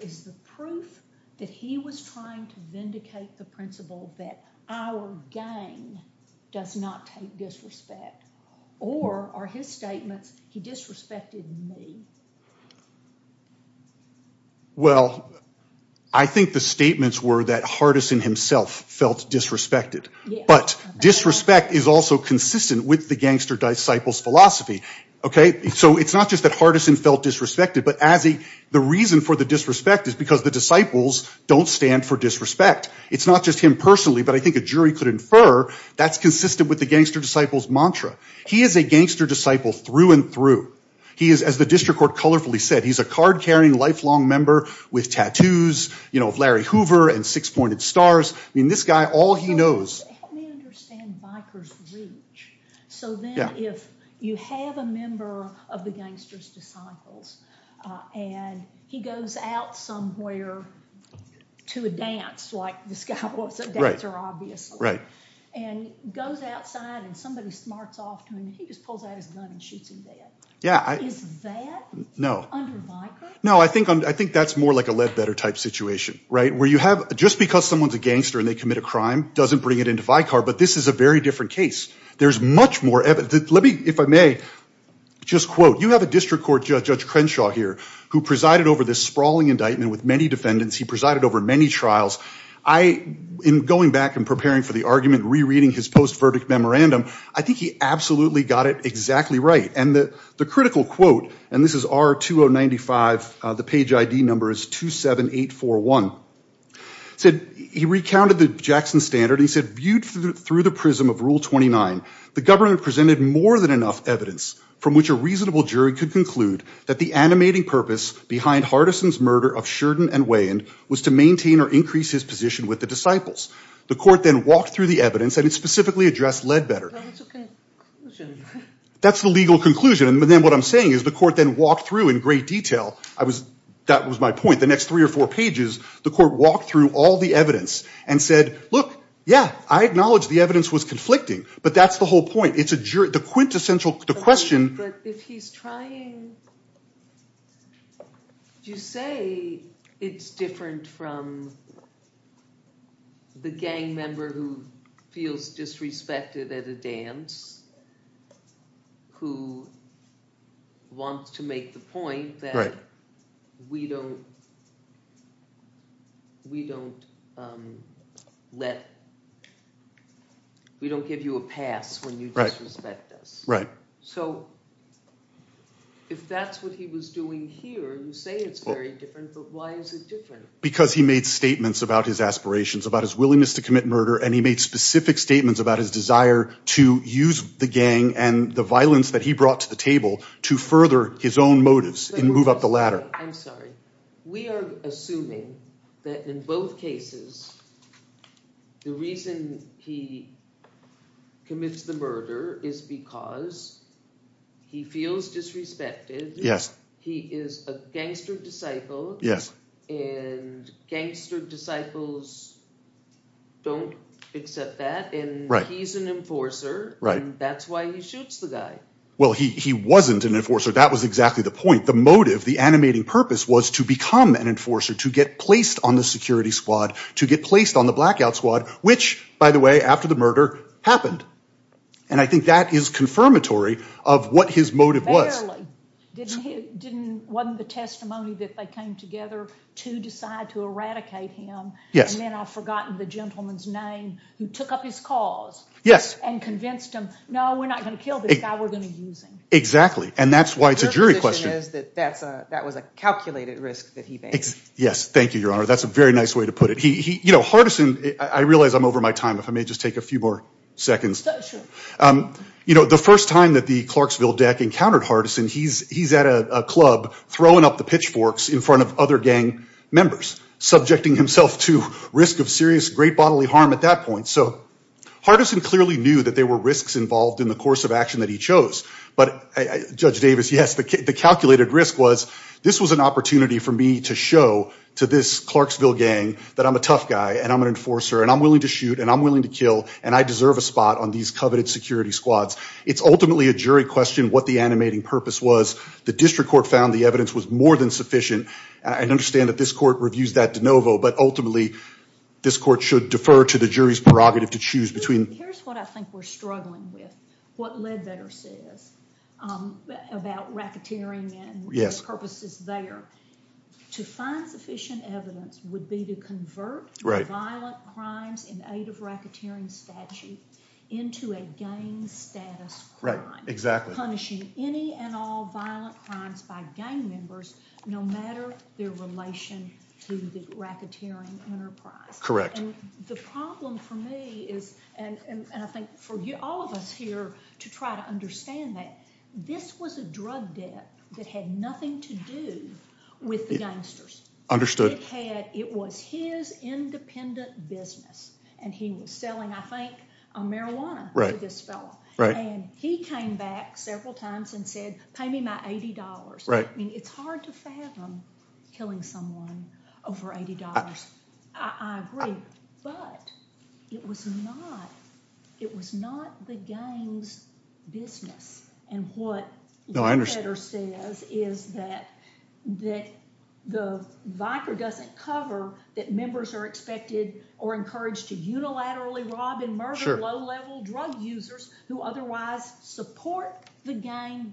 Is the proof that he was trying to vindicate the principle that our gang does not take disrespect, or are his statements, he disrespected me? Well, I think the statements were that Hardison himself felt disrespected. But disrespect is also consistent with the gangster disciple's philosophy, okay? So it's not just that Hardison felt disrespected. But the reason for the disrespect is because the disciples don't stand for disrespect. It's not just him personally. But I think a jury could infer that's consistent with the gangster disciple's mantra. He is a gangster disciple through and through. He is, as the district court colorfully said, he's a card-carrying, lifelong member with tattoos, you know, of Larry Hoover and six-pointed stars. I mean, this guy, all he knows— Help me understand Viker's reach. So then if you have a member of the gangster's disciples, and he goes out somewhere to a dance, like this guy was a dancer, obviously, and goes outside and somebody smarts off to him, he just pulls out his gun and shoots him dead. Is that under Viker? No, I think that's more like a Ledbetter-type situation, right? Where you have—just because someone's a gangster and they commit a crime doesn't bring it into Viker. But this is a very different case. There's much more evidence. Let me, if I may, just quote. You have a district court judge, Judge Crenshaw, here, who presided over this sprawling indictment with many defendants. He presided over many trials. In going back and preparing for the argument, rereading his post-verdict memorandum, I think he absolutely got it exactly right. And the critical quote—and this is R-2095, the page ID number is 27841— he recounted the Jackson Standard, and he said, Viewed through the prism of Rule 29, the government presented more than enough evidence from which a reasonable jury could conclude that the animating purpose behind Hardison's murder of Sheridan and Weyand was to maintain or increase his position with the disciples. The court then walked through the evidence, and it specifically addressed Ledbetter. Well, that's a conclusion. That's the legal conclusion. And then what I'm saying is the court then walked through in great detail— that was my point—the next three or four pages, the court walked through all the evidence and said, Look, yeah, I acknowledge the evidence was conflicting, but that's the whole point. The question— I'm trying to say it's different from the gang member who feels disrespected at a dance who wants to make the point that we don't give you a pass when you disrespect us. So if that's what he was doing here, you say it's very different, but why is it different? Because he made statements about his aspirations, about his willingness to commit murder, and he made specific statements about his desire to use the gang and the violence that he brought to the table to further his own motives and move up the ladder. I'm sorry. We are assuming that in both cases, the reason he commits the murder is because he feels disrespected. He is a gangster disciple. Yes. And gangster disciples don't accept that. Right. And he's an enforcer. Right. And that's why he shoots the guy. Well, he wasn't an enforcer. That was exactly the point. The motive, the animating purpose, was to become an enforcer, to get placed on the security squad, to get placed on the blackout squad, which, by the way, after the murder happened. And I think that is confirmatory of what his motive was. Wasn't the testimony that they came together to decide to eradicate him? Yes. And then I've forgotten the gentleman's name who took up his cause. Yes. And convinced him, no, we're not going to kill this guy. We're going to use him. Exactly. And that's why it's a jury question. That was a calculated risk that he faced. Yes. Thank you, Your Honor. That's a very nice way to put it. You know, Hardison, I realize I'm over my time. If I may just take a few more seconds. Sure. You know, the first time that the Clarksville deck encountered Hardison, he's at a club throwing up the pitchforks in front of other gang members, subjecting himself to risk of serious great bodily harm at that point. So Hardison clearly knew that there were risks involved in the course of action that he chose. But, Judge Davis, yes, the calculated risk was, this was an opportunity for me to show to this Clarksville gang that I'm a tough guy and I'm an enforcer and I'm willing to shoot and I'm willing to kill and I deserve a spot on these coveted security squads. It's ultimately a jury question what the animating purpose was. The district court found the evidence was more than sufficient. I understand that this court reviews that de novo, but ultimately this court should defer to the jury's prerogative to choose between. Here's what I think we're struggling with, what Ledbetter says about racketeering and the purposes there. To find sufficient evidence would be to convert violent crimes in aid of racketeering statute into a gang status crime, punishing any and all violent crimes by gang members no matter their relation to the racketeering enterprise. Correct. The problem for me is, and I think for all of us here to try to understand that, this was a drug debt that had nothing to do with the gangsters. Understood. It was his independent business and he was selling, I think, marijuana to this fellow. Right. He came back several times and said, pay me my $80. Right. It's hard to fathom killing someone over $80. I agree, but it was not the gang's business. What Ledbetter says is that the Vicar doesn't cover that members are expected or encouraged to unilaterally rob and murder low-level drug users who otherwise support the gang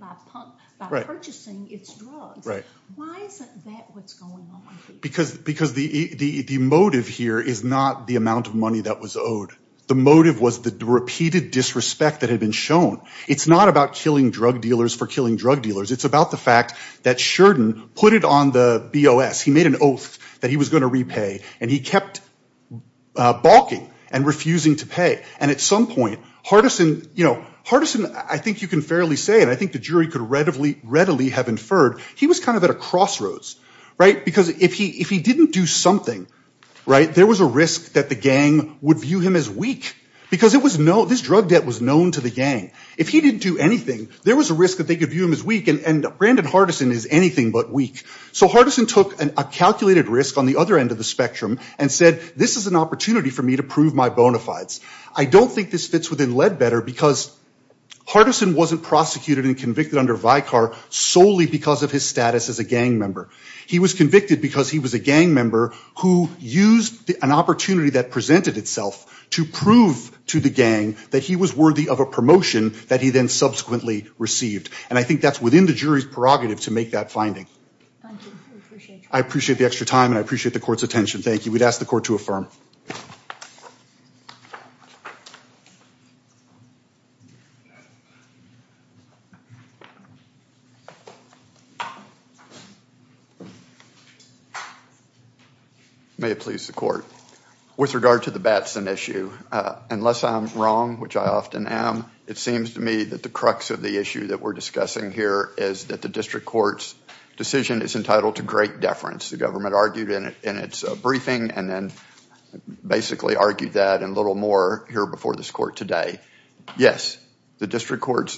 by purchasing its drugs. Right. Why isn't that what's going on? Because the motive here is not the amount of money that was owed. The motive was the repeated disrespect that had been shown. It's not about killing drug dealers for killing drug dealers. It's about the fact that Sheridan put it on the BOS. He made an oath that he was going to repay, and he kept balking and refusing to pay. And at some point, Hardison, I think you can fairly say, and I think the jury could readily have inferred, he was kind of at a crossroads. Right. Because if he didn't do something, there was a risk that the gang would view him as weak because this drug debt was known to the gang. If he didn't do anything, there was a risk that they could view him as weak, and Brandon Hardison is anything but weak. So Hardison took a calculated risk on the other end of the spectrum and said this is an opportunity for me to prove my bona fides. I don't think this fits within Ledbetter because Hardison wasn't prosecuted and convicted under Vicar solely because of his status as a gang member. He was convicted because he was a gang member who used an opportunity that presented itself to prove to the gang that he was worthy of a promotion that he then subsequently received. And I think that's within the jury's prerogative to make that finding. Thank you. We appreciate your time. I appreciate the extra time, and I appreciate the court's attention. Thank you. We'd ask the court to affirm. May it please the court. With regard to the Batson issue, unless I'm wrong, which I often am, it seems to me that the crux of the issue that we're discussing here is that the district court's decision is entitled to great deference. The government argued in its briefing and then basically argued that a little more here before this court today. Yes, the district court's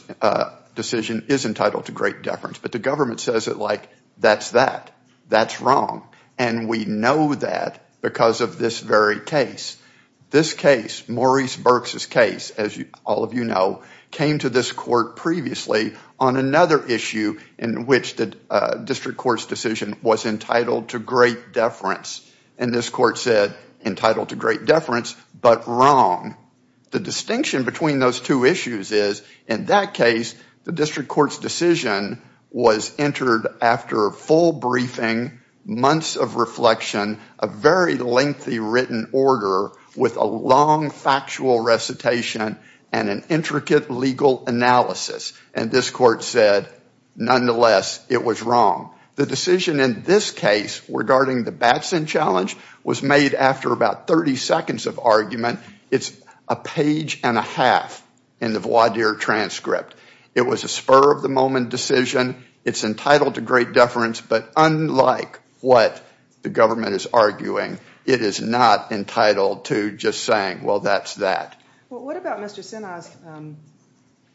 decision is entitled to great deference, but the government says it like, that's that. That's wrong. And we know that because of this very case. This case, Maurice Burks' case, as all of you know, came to this court previously on another issue in which the district court's decision was entitled to great deference. And this court said, entitled to great deference, but wrong. The distinction between those two issues is, in that case, the district court's decision was entered after a full briefing, months of reflection, a very lengthy written order with a long factual recitation and an intricate legal analysis. And this court said, nonetheless, it was wrong. The decision in this case regarding the Batson challenge was made after about 30 seconds of argument. It's a page and a half in the voir dire transcript. It was a spur of the moment decision. It's entitled to great deference, but unlike what the government is arguing, it is not entitled to just saying, well, that's that. Well, what about Mr. Sinha's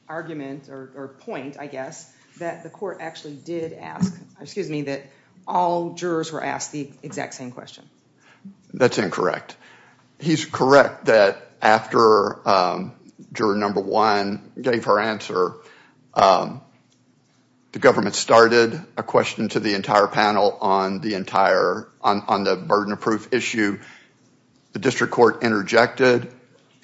argument or point, I guess, that the court actually did ask, excuse me, that all jurors were asked the exact same question? That's incorrect. He's correct that after juror number one gave her answer, the government started a question to the entire panel on the burden of proof issue. The district court interjected,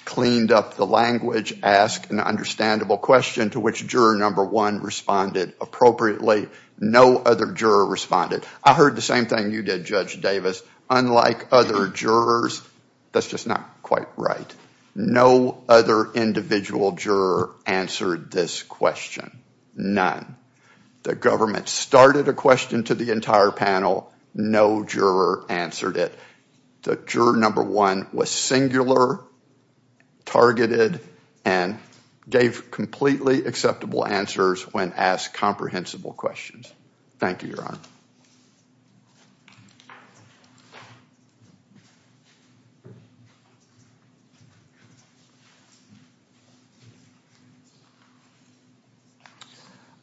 cleaned up the language, asked an understandable question to which juror number one responded appropriately. No other juror responded. I heard the same thing you did, Judge Davis. Unlike other jurors, that's just not quite right. No other individual juror answered this question. None. The government started a question to the entire panel. No juror answered it. Juror number one was singular, targeted, and gave completely acceptable answers when asked comprehensible questions. Thank you, Your Honor.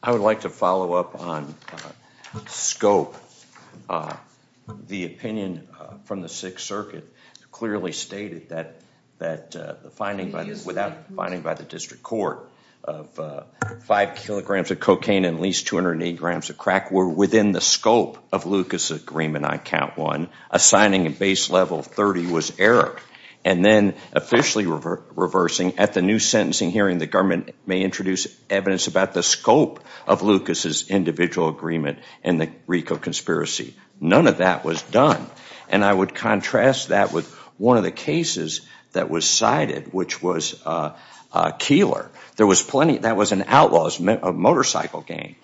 I would like to follow up on scope. The opinion from the Sixth Circuit clearly stated that the finding, without the finding by the district court, of five kilograms of cocaine and at least 208 grams of crack, were within the scope of Lucas' agreement on count one. Assigning a base level of 30 was error. And then officially reversing at the new sentencing hearing, the government may introduce evidence about the scope of Lucas' individual agreement and the RICO conspiracy. None of that was done. And I would contrast that with one of the cases that was cited, which was Keillor. That was an outlaw's motorcycle gang.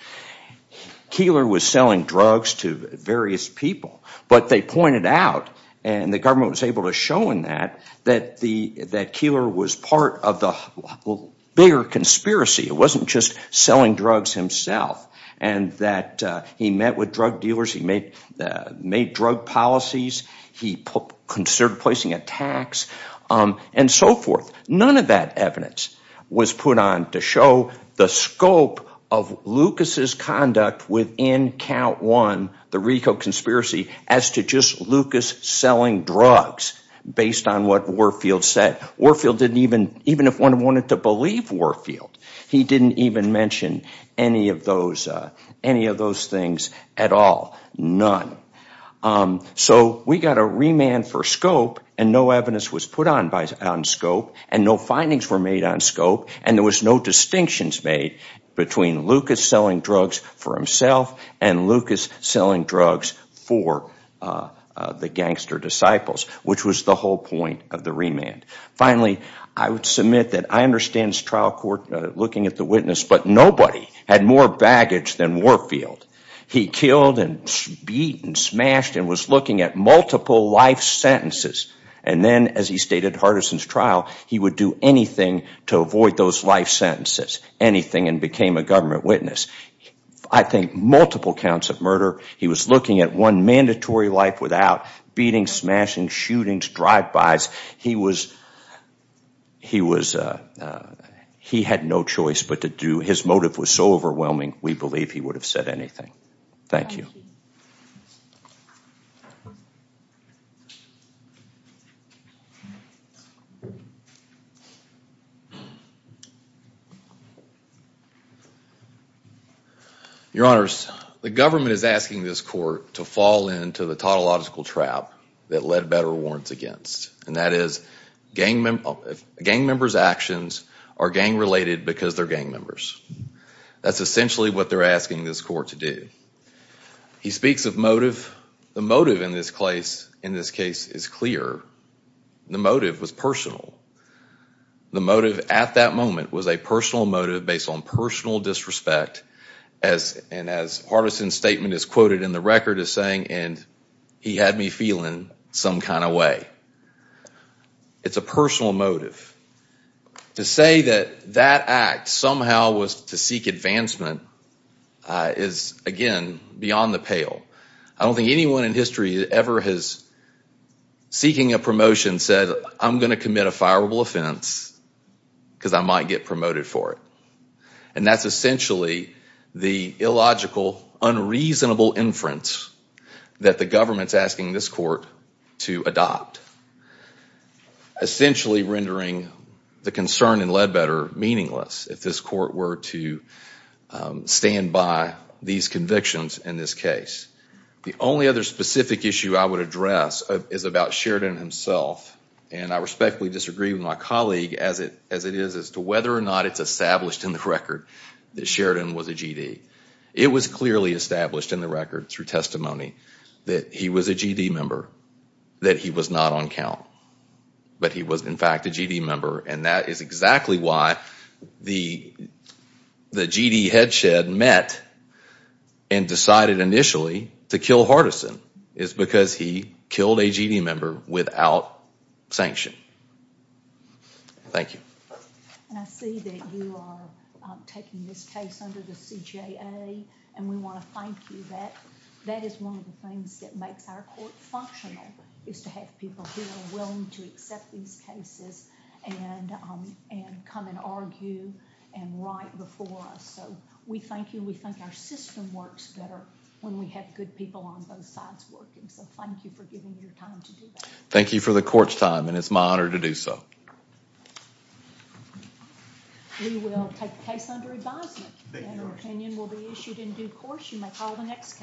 Keillor was selling drugs to various people. But they pointed out, and the government was able to show in that, that Keillor was part of the bigger conspiracy. It wasn't just selling drugs himself. And that he met with drug dealers, he made drug policies, he considered placing a tax, and so forth. None of that evidence was put on to show the scope of Lucas' conduct within count one, the RICO conspiracy, as to just Lucas selling drugs based on what Warfield said. Warfield didn't even, even if one wanted to believe Warfield, he didn't even mention any of those things at all. None. So we got a remand for scope, and no evidence was put on scope, and no findings were made on scope, and there was no distinctions made between Lucas selling drugs for himself and Lucas selling drugs for the gangster disciples, which was the whole point of the remand. Finally, I would submit that I understand this trial court looking at the witness, but nobody had more baggage than Warfield. He killed and beat and smashed and was looking at multiple life sentences, and then, as he stated in Hardison's trial, he would do anything to avoid those life sentences, anything, and became a government witness. I think multiple counts of murder, he was looking at one mandatory life without beating, smashing, shootings, drive-bys. He had no choice but to do, his motive was so overwhelming, we believe he would have said anything. Thank you. Your Honors, the government is asking this court to fall into the tautological trap that Ledbetter warns against, and that is gang members' actions are gang-related because they're gang members. That's essentially what they're asking this court to do. He speaks of motive. The motive in this case is clear. The motive was personal. The motive at that moment was a personal motive based on personal disrespect, and as Hardison's statement is quoted in the record as saying, and he had me feeling some kind of way. It's a personal motive. To say that that act somehow was to seek advancement is, again, beyond the pale. I don't think anyone in history ever has, seeking a promotion, said, I'm going to commit a fireable offense because I might get promoted for it, and that's essentially the illogical, unreasonable inference that the government's asking this court to adopt, essentially rendering the concern in Ledbetter meaningless if this court were to stand by these convictions in this case. The only other specific issue I would address is about Sheridan himself, and I respectfully disagree with my colleague as it is as to whether or not it's established in the record that Sheridan was a G.D. It was clearly established in the record through testimony that he was a G.D. member, that he was not on count, but he was in fact a G.D. member, and that is exactly why the G.D. head shed met and decided initially to kill Hardison, is because he killed a G.D. member without sanction. Thank you. And I see that you are taking this case under the CJA, and we want to thank you. That is one of the things that makes our court functional, is to have people who are willing to accept these cases and come and argue and write before us. So we thank you. We think our system works better when we have good people on both sides working, so thank you for giving me your time to do that. Thank you for the court's time, and it's my honor to do so. We will take the case under advisement. And an opinion will be issued in due course. You may call the next case.